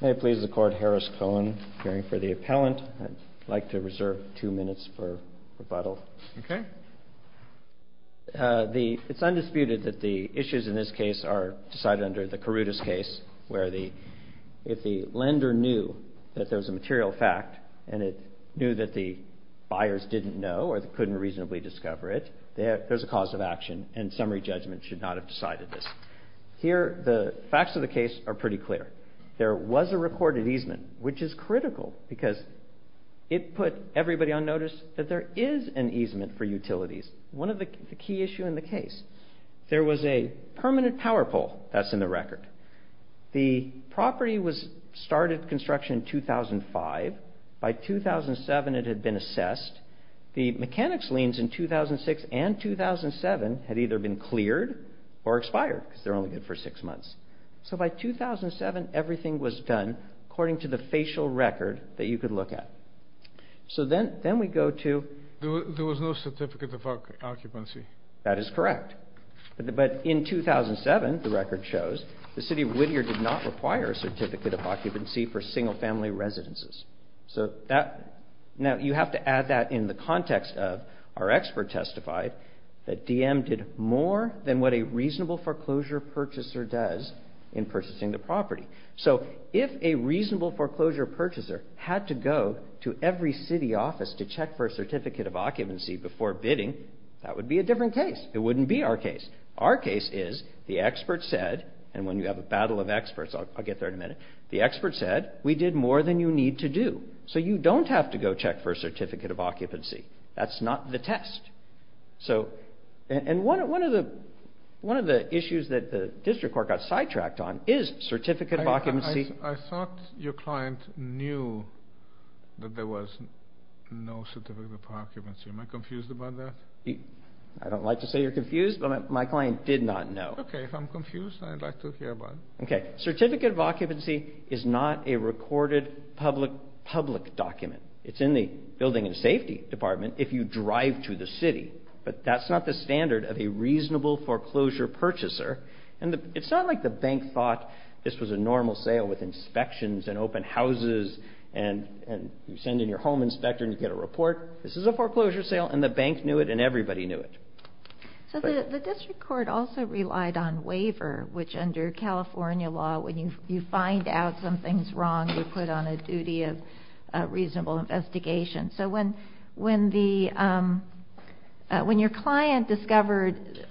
May it please the court, Harris Cohen, appearing for the appellant. I'd like to reserve two minutes for rebuttal. Okay. It's undisputed that the issues in this case are decided under the Carudas case, where if the lender knew that there was a material fact, and it knew that the buyers didn't know or couldn't reasonably discover it, there's a cause of action, and summary judgment should not have decided this. Here the facts of the case are pretty clear. There was a recorded easement, which is critical because it put everybody on notice that there is an easement for utilities. One of the key issues in the case, there was a permanent power pole that's in the record. The property was started construction in 2005. By 2007 it had been assessed. The mechanics liens in 2006 and 2007 had either been cleared or expired because they're only good for six months. So by 2007 everything was done according to the facial record that you could look at. So then we go to There was no certificate of occupancy. That is correct. But in 2007, the record shows, the City of Whittier did not require a certificate of occupancy for single-family residences. Now you have to add that in the context of our expert testified that DM did more than what a reasonable foreclosure purchaser does in purchasing the property. So if a reasonable foreclosure purchaser had to go to every city office to check for a certificate of occupancy before bidding, that would be a different case. It wouldn't be our case. Our case is the expert said, and when you have a battle of experts, I'll get there in a minute. The expert said, we did more than you need to do. So you don't have to go check for a certificate of occupancy. That's not the test. And one of the issues that the district court got sidetracked on is certificate of occupancy. I thought your client knew that there was no certificate of occupancy. Am I confused about that? I don't like to say you're confused, but my client did not know. Okay, if I'm confused, I'd like to hear about it. Okay. Certificate of occupancy is not a recorded public document. It's in the building and safety department if you drive to the city, but that's not the standard of a reasonable foreclosure purchaser. And it's not like the bank thought this was a normal sale with inspections and open houses and you send in your home inspector and you get a report. This is a foreclosure sale and the bank knew it and everybody knew it. So the district court also relied on waiver, which under California law, when you find out something's wrong, you're put on a duty of reasonable investigation. So when your client discovered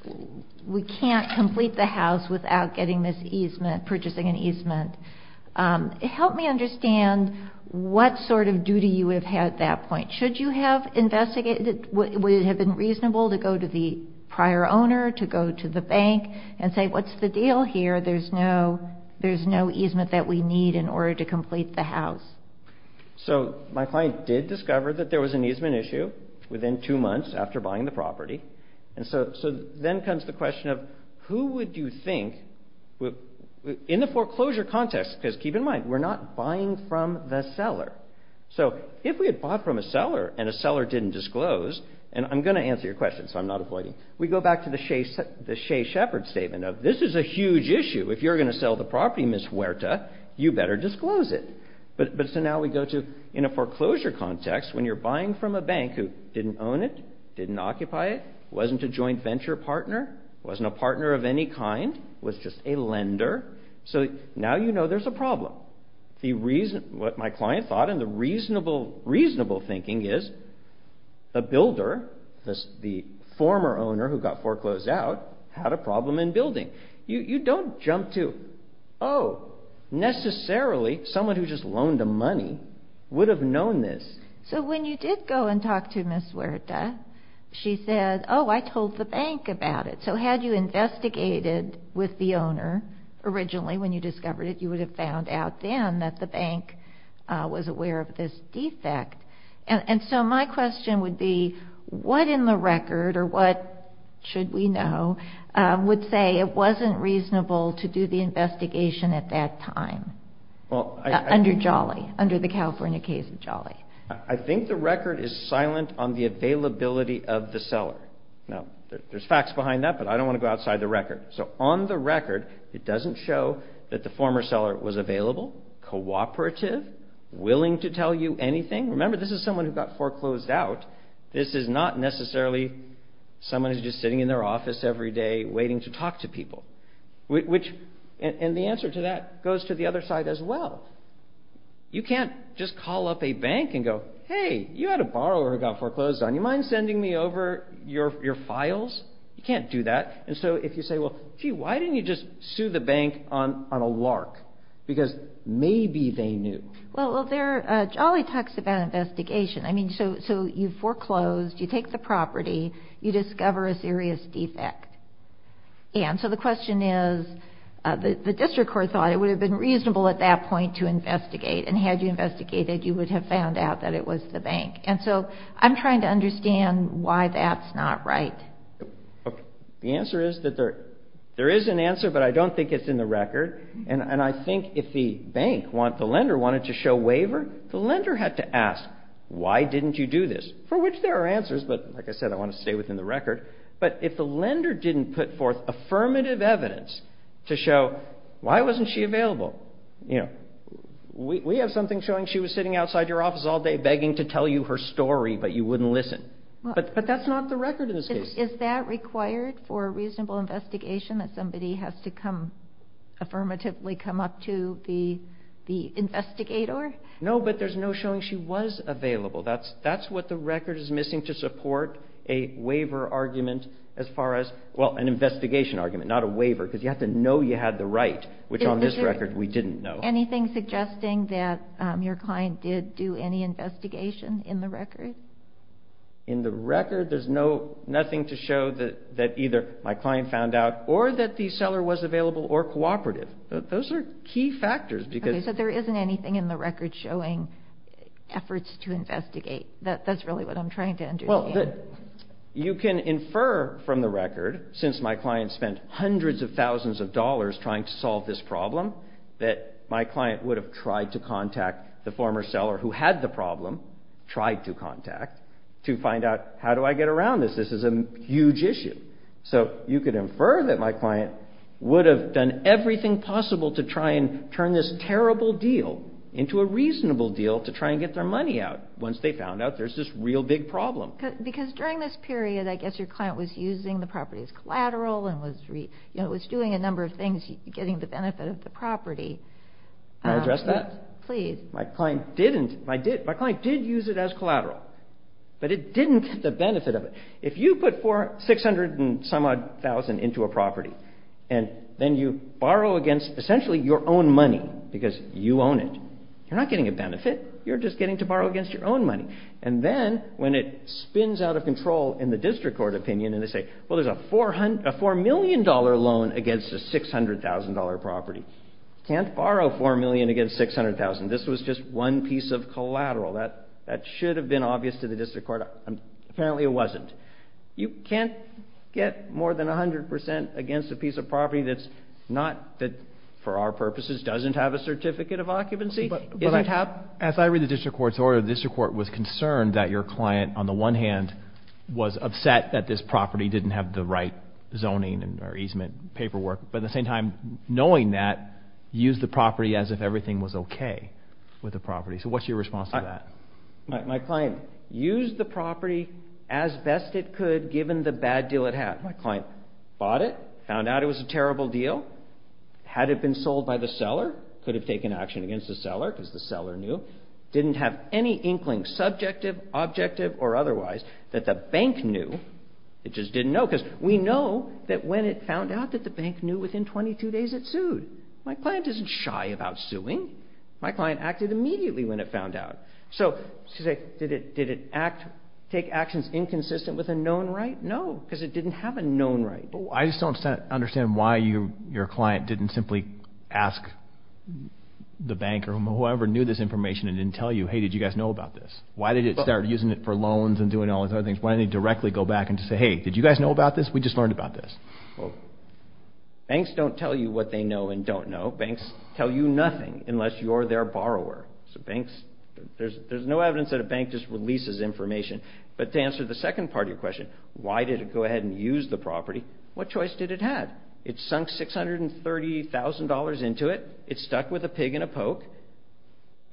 we can't complete the house without getting this easement, purchasing an easement, help me understand what sort of duty you would have had at that point. Should you have investigated, would it have been reasonable to go to the prior owner, to go to the bank and say what's the deal here? There's no easement that we need in order to complete the house. So my client did discover that there was an easement issue within two months after buying the property. And so then comes the question of who would you think, in the foreclosure context, because keep in mind, we're not buying from the seller. So if we had bought from a seller and a seller didn't disclose, and I'm going to answer your question so I'm not avoiding, we go back to the Shea Shepherd statement of this is a huge issue. If you're going to sell the property, Ms. Huerta, you better disclose it. But so now we go to, in a foreclosure context, when you're buying from a bank who didn't own it, didn't occupy it, wasn't a joint venture partner, wasn't a partner of any kind, was just a lender, so now you know there's a problem. What my client thought and the reasonable thinking is a builder, the former owner who got foreclosed out, had a problem in building. You don't jump to, oh, necessarily someone who just loaned the money would have known this. So when you did go and talk to Ms. Huerta, she said, oh, I told the bank about it. So had you investigated with the owner originally when you discovered it, you would have found out then that the bank was aware of this defect. And so my question would be what in the record, or what should we know, would say it wasn't reasonable to do the investigation at that time under Jolly, under the California case of Jolly? I think the record is silent on the availability of the seller. Now, there's facts behind that, but I don't want to go outside the record. So on the record, it doesn't show that the former seller was available, cooperative, willing to tell you anything. Remember, this is someone who got foreclosed out. This is not necessarily someone who's just sitting in their office every day waiting to talk to people. And the answer to that goes to the other side as well. You can't just call up a bank and go, hey, you had a borrower who got foreclosed on. Do you mind sending me over your files? You can't do that. And so if you say, well, gee, why didn't you just sue the bank on a lark? Because maybe they knew. Well, Jolly talks about investigation. I mean, so you foreclosed, you take the property, you discover a serious defect. And so the question is the district court thought it would have been reasonable at that point to investigate, And so I'm trying to understand why that's not right. The answer is that there is an answer, but I don't think it's in the record. And I think if the bank, the lender wanted to show waiver, the lender had to ask, why didn't you do this? For which there are answers, but like I said, I want to stay within the record. But if the lender didn't put forth affirmative evidence to show why wasn't she available, you know, we have something showing she was sitting outside your office all day begging to tell you her story, but you wouldn't listen. But that's not the record in this case. Is that required for a reasonable investigation that somebody has to come, affirmatively come up to the investigator? No, but there's no showing she was available. That's what the record is missing to support a waiver argument as far as, well, an investigation argument, not a waiver, because you have to know you had the right, which on this record we didn't know. Is there anything suggesting that your client did do any investigation in the record? In the record, there's nothing to show that either my client found out or that the seller was available or cooperative. Those are key factors. Okay, so there isn't anything in the record showing efforts to investigate. That's really what I'm trying to understand. Well, you can infer from the record, since my client spent hundreds of thousands of dollars trying to solve this problem, that my client would have tried to contact the former seller who had the problem, tried to contact, to find out how do I get around this. This is a huge issue. So you could infer that my client would have done everything possible to try and turn this terrible deal into a reasonable deal to try and get their money out once they found out there's this real big problem. Because during this period, I guess your client was using the property as collateral and was doing a number of things, getting the benefit of the property. Can I address that? Please. My client didn't. My client did use it as collateral, but it didn't get the benefit of it. If you put 600 and some odd thousand into a property and then you borrow against essentially your own money because you own it, you're not getting a benefit. You're just getting to borrow against your own money. And then when it spins out of control in the district court opinion and they say, well, there's a $4 million loan against a $600,000 property. You can't borrow $4 million against $600,000. This was just one piece of collateral. That should have been obvious to the district court. Apparently it wasn't. You can't get more than 100 percent against a piece of property that's not, that for our purposes doesn't have a certificate of occupancy. As I read the district court's order, the district court was concerned that your client, on the one hand, was upset that this property didn't have the right zoning or easement paperwork. But at the same time, knowing that, used the property as if everything was okay with the property. So what's your response to that? My client used the property as best it could given the bad deal it had. My client bought it, found out it was a terrible deal. Had it been sold by the seller, could have taken action against the seller because the seller knew. Didn't have any inkling, subjective, objective or otherwise, that the bank knew. It just didn't know because we know that when it found out that the bank knew within 22 days it sued. My client isn't shy about suing. My client acted immediately when it found out. So did it take actions inconsistent with a known right? No, because it didn't have a known right. I just don't understand why your client didn't simply ask the bank or whoever knew this information and didn't tell you, hey, did you guys know about this? Why did it start using it for loans and doing all these other things? Why didn't it directly go back and just say, hey, did you guys know about this? We just learned about this. Banks don't tell you what they know and don't know. Banks tell you nothing unless you're their borrower. So banks, there's no evidence that a bank just releases information. But to answer the second part of your question, why did it go ahead and use the property, what choice did it have? It sunk $630,000 into it. It stuck with a pig and a poke.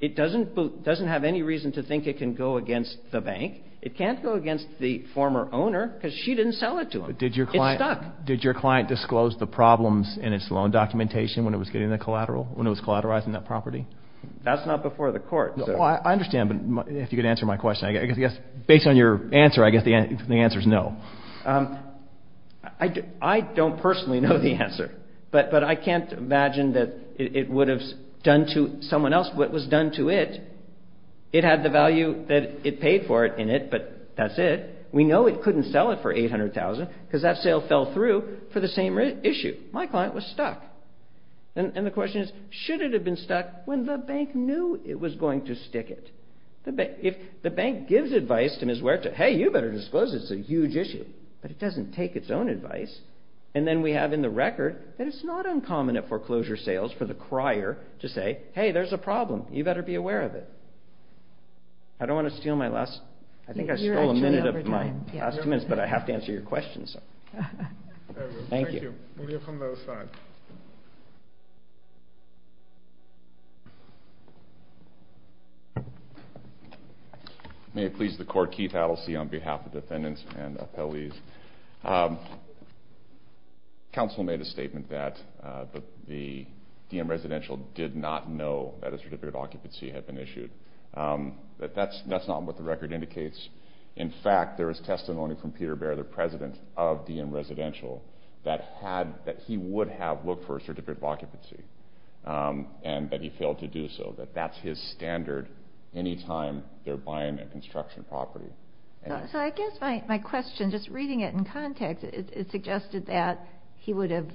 It doesn't have any reason to think it can go against the bank. It can't go against the former owner because she didn't sell it to him. It stuck. Did your client disclose the problems in its loan documentation when it was getting the collateral, when it was collateralizing that property? That's not before the court. I understand, but if you could answer my question. I guess based on your answer, I guess the answer is no. I don't personally know the answer. But I can't imagine that it would have done to someone else what was done to it. It had the value that it paid for it in it, but that's it. We know it couldn't sell it for $800,000 because that sale fell through for the same issue. My client was stuck. And the question is, should it have been stuck when the bank knew it was going to stick it? If the bank gives advice to Ms. Ware to, hey, you better disclose it, it's a huge issue. But it doesn't take its own advice. And then we have in the record that it's not uncommon at foreclosure sales for the crier to say, hey, there's a problem. You better be aware of it. I don't want to steal my last, I think I stole a minute of my last two minutes, but I have to answer your question. Thank you. We'll hear from the other side. May it please the Court, Keith Adelstein on behalf of defendants and appellees. Counsel made a statement that the DM residential did not know that a certificate of occupancy had been issued. That's not what the record indicates. In fact, there is testimony from Peter Bear, the president of DM residential, that he would have looked for a certificate of occupancy. And that he failed to do so. That that's his standard any time they're buying a construction property. So I guess my question, just reading it in context, it suggested that he would have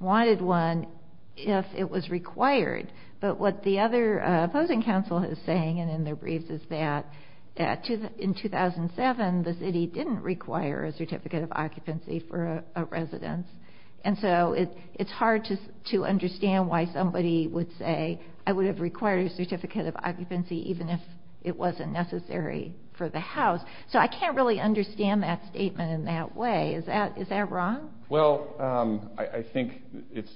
wanted one if it was required. But what the other opposing counsel is saying, and in their briefs, is that in 2007, the city didn't require a certificate of occupancy for a residence. And so it's hard to understand why somebody would say, I would have required a certificate of occupancy even if it wasn't necessary for the house. So I can't really understand that statement in that way. Is that wrong? Well, I think it's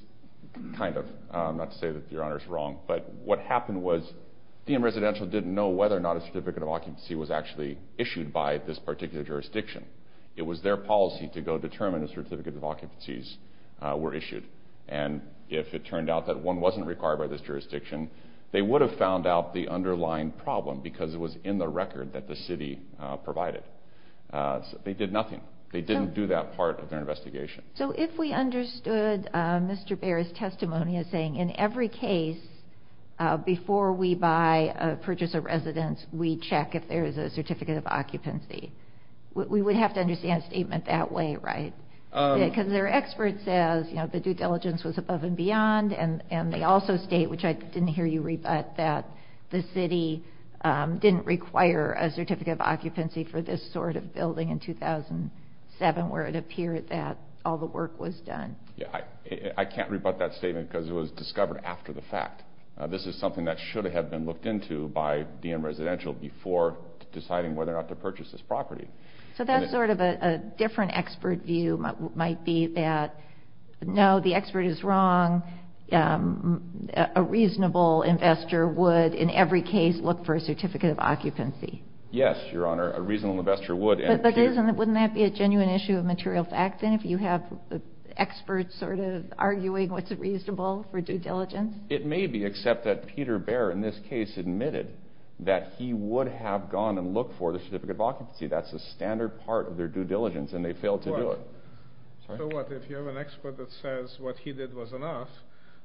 kind of. Not to say that Your Honor is wrong. But what happened was DM residential didn't know whether or not a certificate of occupancy was actually issued by this particular jurisdiction. It was their policy to go determine a certificate of occupancies were issued. And if it turned out that one wasn't required by this jurisdiction, they would have found out the underlying problem because it was in the record that the city provided. They did nothing. They didn't do that part of their investigation. So if we understood Mr. Baer's testimony as saying in every case, before we buy or purchase a residence, we check if there is a certificate of occupancy. We would have to understand a statement that way, right? Because their expert says the due diligence was above and beyond. And they also state, which I didn't hear you rebut, that the city didn't require a certificate of occupancy for this sort of building in 2007 where it appeared that all the work was done. I can't rebut that statement because it was discovered after the fact. This is something that should have been looked into by DM residential before deciding whether or not to purchase this property. So that's sort of a different expert view might be that, no, the expert is wrong. A reasonable investor would in every case look for a certificate of occupancy. Yes, Your Honor. A reasonable investor would. But wouldn't that be a genuine issue of material fact then if you have experts sort of arguing what's reasonable for due diligence? It may be, except that Peter Baer in this case admitted that he would have gone and looked for the certificate of occupancy. That's a standard part of their due diligence, and they failed to do it. So what? If you have an expert that says what he did was enough,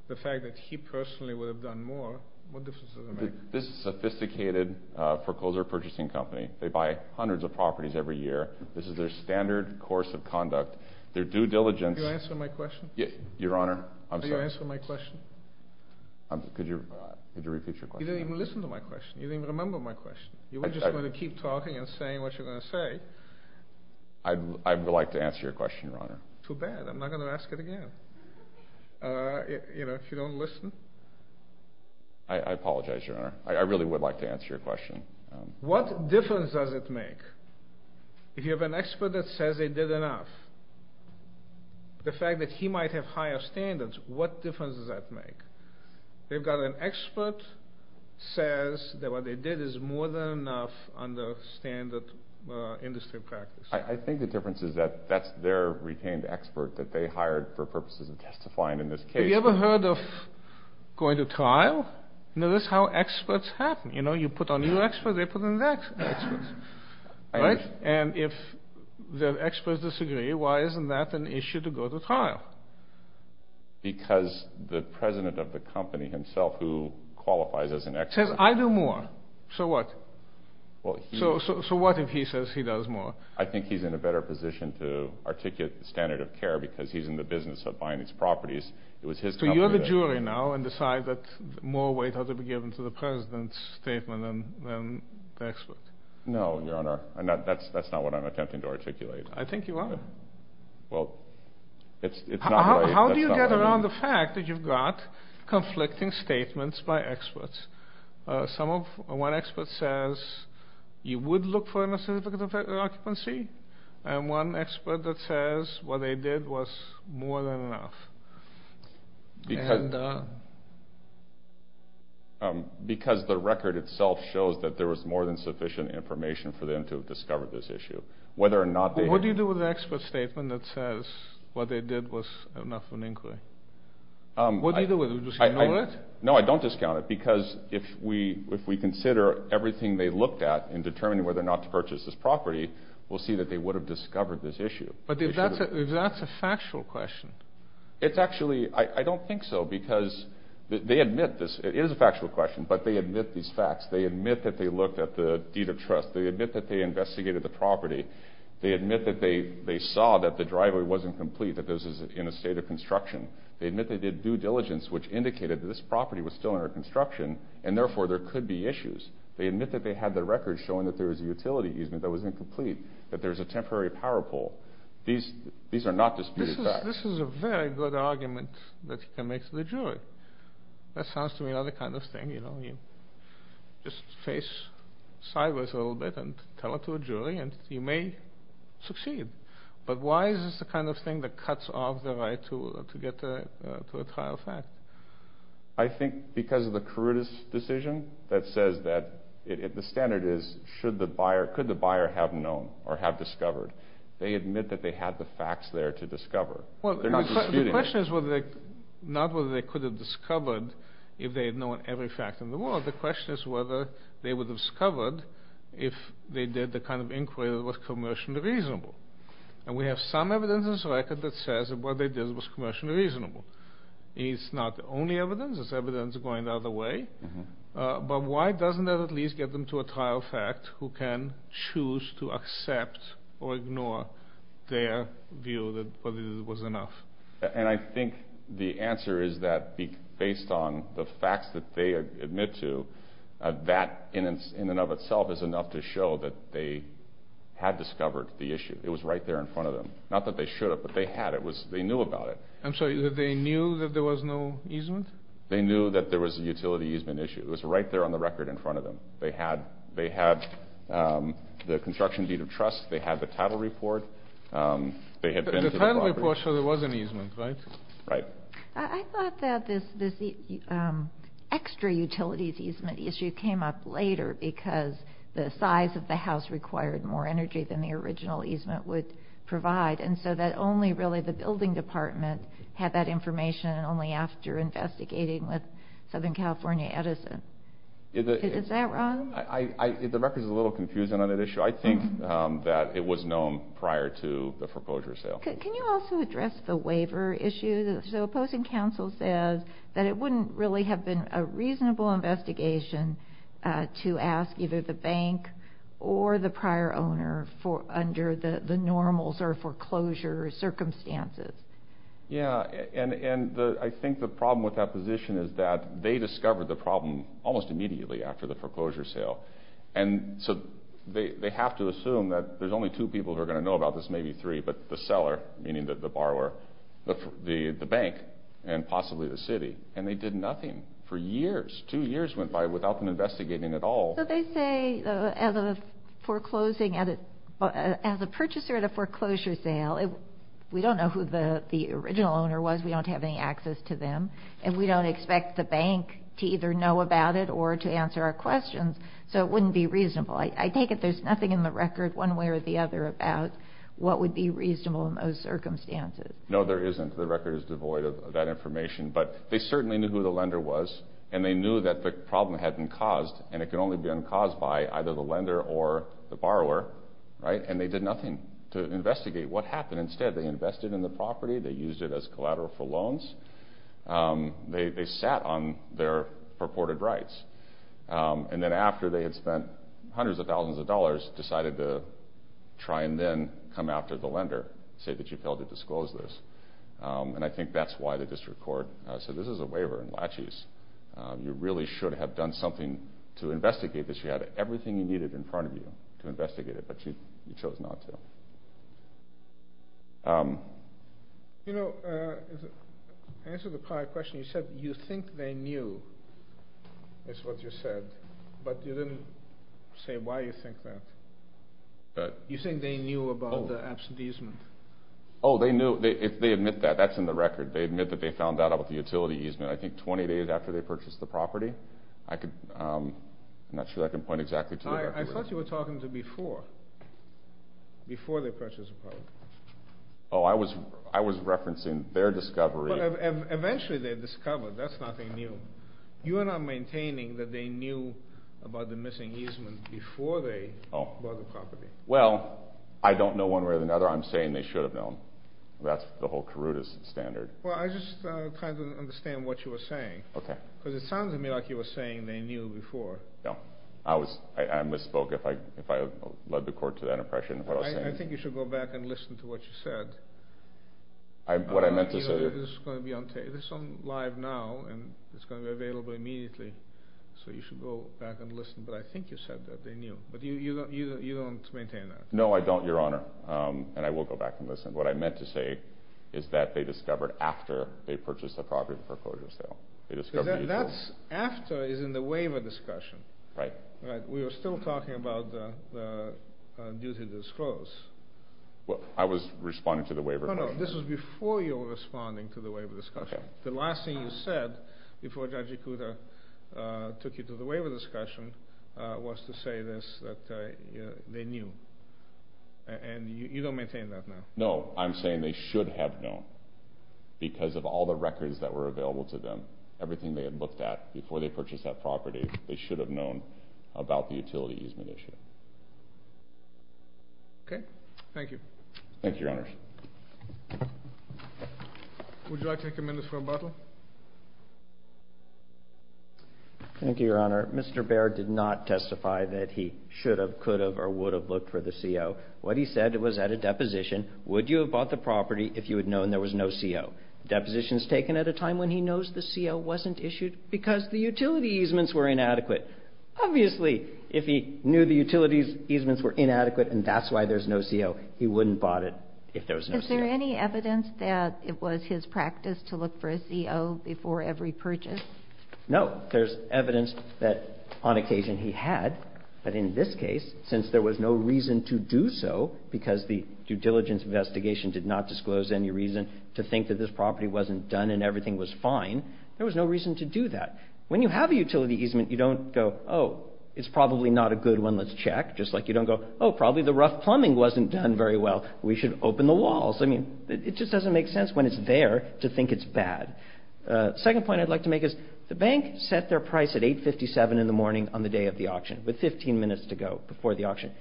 the fact that he personally would have done more, what difference does it make? This is a sophisticated foreclosure purchasing company. They buy hundreds of properties every year. This is their standard course of conduct. Their due diligence— Did you answer my question? Your Honor, I'm sorry. Did you answer my question? Could you repeat your question? You didn't even listen to my question. You didn't even remember my question. You were just going to keep talking and saying what you were going to say. I would like to answer your question, Your Honor. Too bad. I'm not going to ask it again. You know, if you don't listen. I apologize, Your Honor. I really would like to answer your question. What difference does it make if you have an expert that says they did enough? The fact that he might have higher standards, what difference does that make? They've got an expert that says that what they did is more than enough under standard industry practice. I think the difference is that that's their retained expert that they hired for purposes of testifying in this case. Have you ever heard of going to trial? You know, that's how experts happen. You know, you put on your expert, they put on their expert. Right? And if the experts disagree, why isn't that an issue to go to trial? Because the president of the company himself who qualifies as an expert. Says I do more. So what? So what if he says he does more? I think he's in a better position to articulate the standard of care because he's in the business of buying these properties. So you're the jury now and decide that more weight ought to be given to the president's statement than the expert. No, Your Honor. That's not what I'm attempting to articulate. I think you are. Well, it's not right. How do you get around the fact that you've got conflicting statements by experts? One expert says you would look for a certificate of occupancy. And one expert that says what they did was more than enough. Because the record itself shows that there was more than sufficient information for them to discover this issue. What do you do with an expert statement that says what they did was enough for an inquiry? What do you do with it? Do you just ignore it? No, I don't discount it. Because if we consider everything they looked at in determining whether or not to purchase this property, we'll see that they would have discovered this issue. But if that's a factual question. It's actually – I don't think so. Because they admit this. It is a factual question. But they admit these facts. They admit that they looked at the deed of trust. They admit that they investigated the property. They admit that they saw that the driveway wasn't complete, that this is in a state of construction. They admit they did due diligence, which indicated that this property was still under construction, and therefore there could be issues. They admit that they had the record showing that there was a utility easement that was incomplete, that there was a temporary power pole. These are not disputed facts. This is a very good argument that you can make to the jury. That sounds to me like another kind of thing. You just face sideways a little bit and tell it to a jury, and you may succeed. But why is this the kind of thing that cuts off the right to get to a trial fact? I think because of the Carruthers decision that says that – the standard is should the buyer – could the buyer have known or have discovered. They admit that they had the facts there to discover. Well, the question is not whether they could have discovered if they had known every fact in the world. The question is whether they would have discovered if they did the kind of inquiry that was commercially reasonable. And we have some evidence in this record that says that what they did was commercially reasonable. It's not the only evidence. There's evidence going the other way. But why doesn't that at least get them to a trial fact who can choose to accept or ignore their view that what they did was enough? And I think the answer is that based on the facts that they admit to, that in and of itself is enough to show that they had discovered the issue. It was right there in front of them. Not that they should have, but they had. They knew about it. I'm sorry. They knew that there was no easement? They knew that there was a utility easement issue. It was right there on the record in front of them. They had the construction deed of trust. They had the title report. The title report showed there was an easement, right? Right. I thought that this extra utilities easement issue came up later because the size of the house required more energy than the original easement would provide. And so that only really the building department had that information and only after investigating with Southern California Edison. Is that wrong? The record is a little confusing on that issue. I think that it was known prior to the foreclosure sale. Can you also address the waiver issue? So opposing counsel says that it wouldn't really have been a reasonable investigation to ask either the bank or the prior owner under the normals or foreclosure circumstances. Yeah, and I think the problem with that position is that they discovered the problem almost immediately after the foreclosure sale. And so they have to assume that there's only two people who are going to know about this, maybe three, but the seller, meaning the borrower, the bank, and possibly the city. And they did nothing for years. Two years went by without them investigating at all. So they say as a purchaser at a foreclosure sale, we don't know who the original owner was. We don't have any access to them. And we don't expect the bank to either know about it or to answer our questions. So it wouldn't be reasonable. I take it there's nothing in the record one way or the other about what would be reasonable in those circumstances. No, there isn't. The record is devoid of that information. But they certainly knew who the lender was, and they knew that the problem had been caused, and it could only have been caused by either the lender or the borrower. And they did nothing to investigate what happened. Instead, they invested in the property. They used it as collateral for loans. They sat on their purported rights. And then after they had spent hundreds of thousands of dollars, decided to try and then come after the lender, say that you failed to disclose this. And I think that's why the district court said this is a waiver and laches. You really should have done something to investigate this. She had everything you needed in front of you to investigate it, but you chose not to. You know, to answer the prior question, you said you think they knew is what you said, but you didn't say why you think that. You're saying they knew about the absenteeism. Oh, they knew. They admit that. That's in the record. They admit that they found out about the utility easement, I think, 20 days after they purchased the property. I'm not sure I can point exactly to the record. I thought you were talking to before, before they purchased the property. Oh, I was referencing their discovery. Well, eventually they discovered. That's nothing new. You are not maintaining that they knew about the missing easement before they bought the property. Well, I don't know one way or another. I'm saying they should have known. That's the whole Karuta standard. Well, I just kind of didn't understand what you were saying. Okay. Because it sounded to me like you were saying they knew before. No. I misspoke if I led the court to that impression of what I was saying. I think you should go back and listen to what you said. What I meant to say… This is going to be on live now, and it's going to be available immediately, so you should go back and listen. But I think you said that they knew, but you don't maintain that. No, I don't, Your Honor, and I will go back and listen. What I meant to say is that they discovered after they purchased the property before closure sale. That's after is in the waiver discussion. Right. We were still talking about the duty to disclose. I was responding to the waiver. No, no, this was before you were responding to the waiver discussion. Okay. The last thing you said before Judge Ikuda took you to the waiver discussion was to say this, that they knew. And you don't maintain that now. No, I'm saying they should have known because of all the records that were available to them, everything they had looked at before they purchased that property. They should have known about the utility easement issue. Okay. Thank you. Thank you, Your Honor. Would you like to take a minute for rebuttal? Thank you, Your Honor. Mr. Baird did not testify that he should have, could have, or would have looked for the CO. What he said was at a deposition, would you have bought the property if you had known there was no CO? Deposition is taken at a time when he knows the CO wasn't issued because the utility easements were inadequate. Obviously, if he knew the utility easements were inadequate and that's why there's no CO, he wouldn't have bought it if there was no CO. Is there any evidence that it was his practice to look for a CO before every purchase? No. There's evidence that on occasion he had, but in this case, since there was no reason to do so because the due diligence investigation did not disclose any reason to think that this property wasn't done and everything was fine, there was no reason to do that. When you have a utility easement, you don't go, oh, it's probably not a good one. Let's check, just like you don't go, oh, probably the rough plumbing wasn't done very well. We should open the walls. I mean, it just doesn't make sense when it's there to think it's bad. Second point I'd like to make is the bank set their price at $8.57 in the morning on the day of the auction with 15 minutes to go before the auction.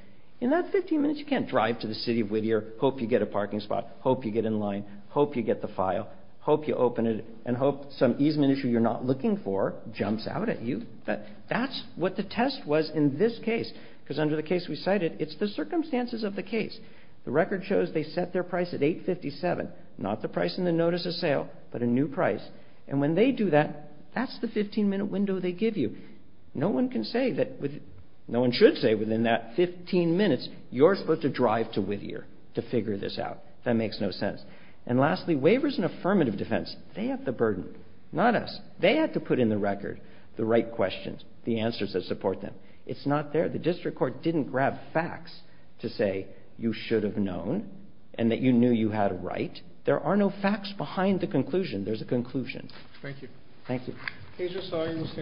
In that 15 minutes, you can't drive to the city of Whittier, hope you get a parking spot, hope you get in line, hope you get the file, hope you open it, and hope some easement issue you're not looking for jumps out at you. That's what the test was in this case because under the case we cited, it's the circumstances of the case. The record shows they set their price at $8.57, not the price in the notice of sale, but a new price. And when they do that, that's the 15-minute window they give you. No one can say that with no one should say within that 15 minutes, you're supposed to drive to Whittier to figure this out. That makes no sense. And lastly, waivers and affirmative defense, they have the burden, not us. They had to put in the record the right questions, the answers that support them. It's not there. The district court didn't grab facts to say you should have known and that you knew you had a right. There are no facts behind the conclusion. There's a conclusion. Thank you. Thank you.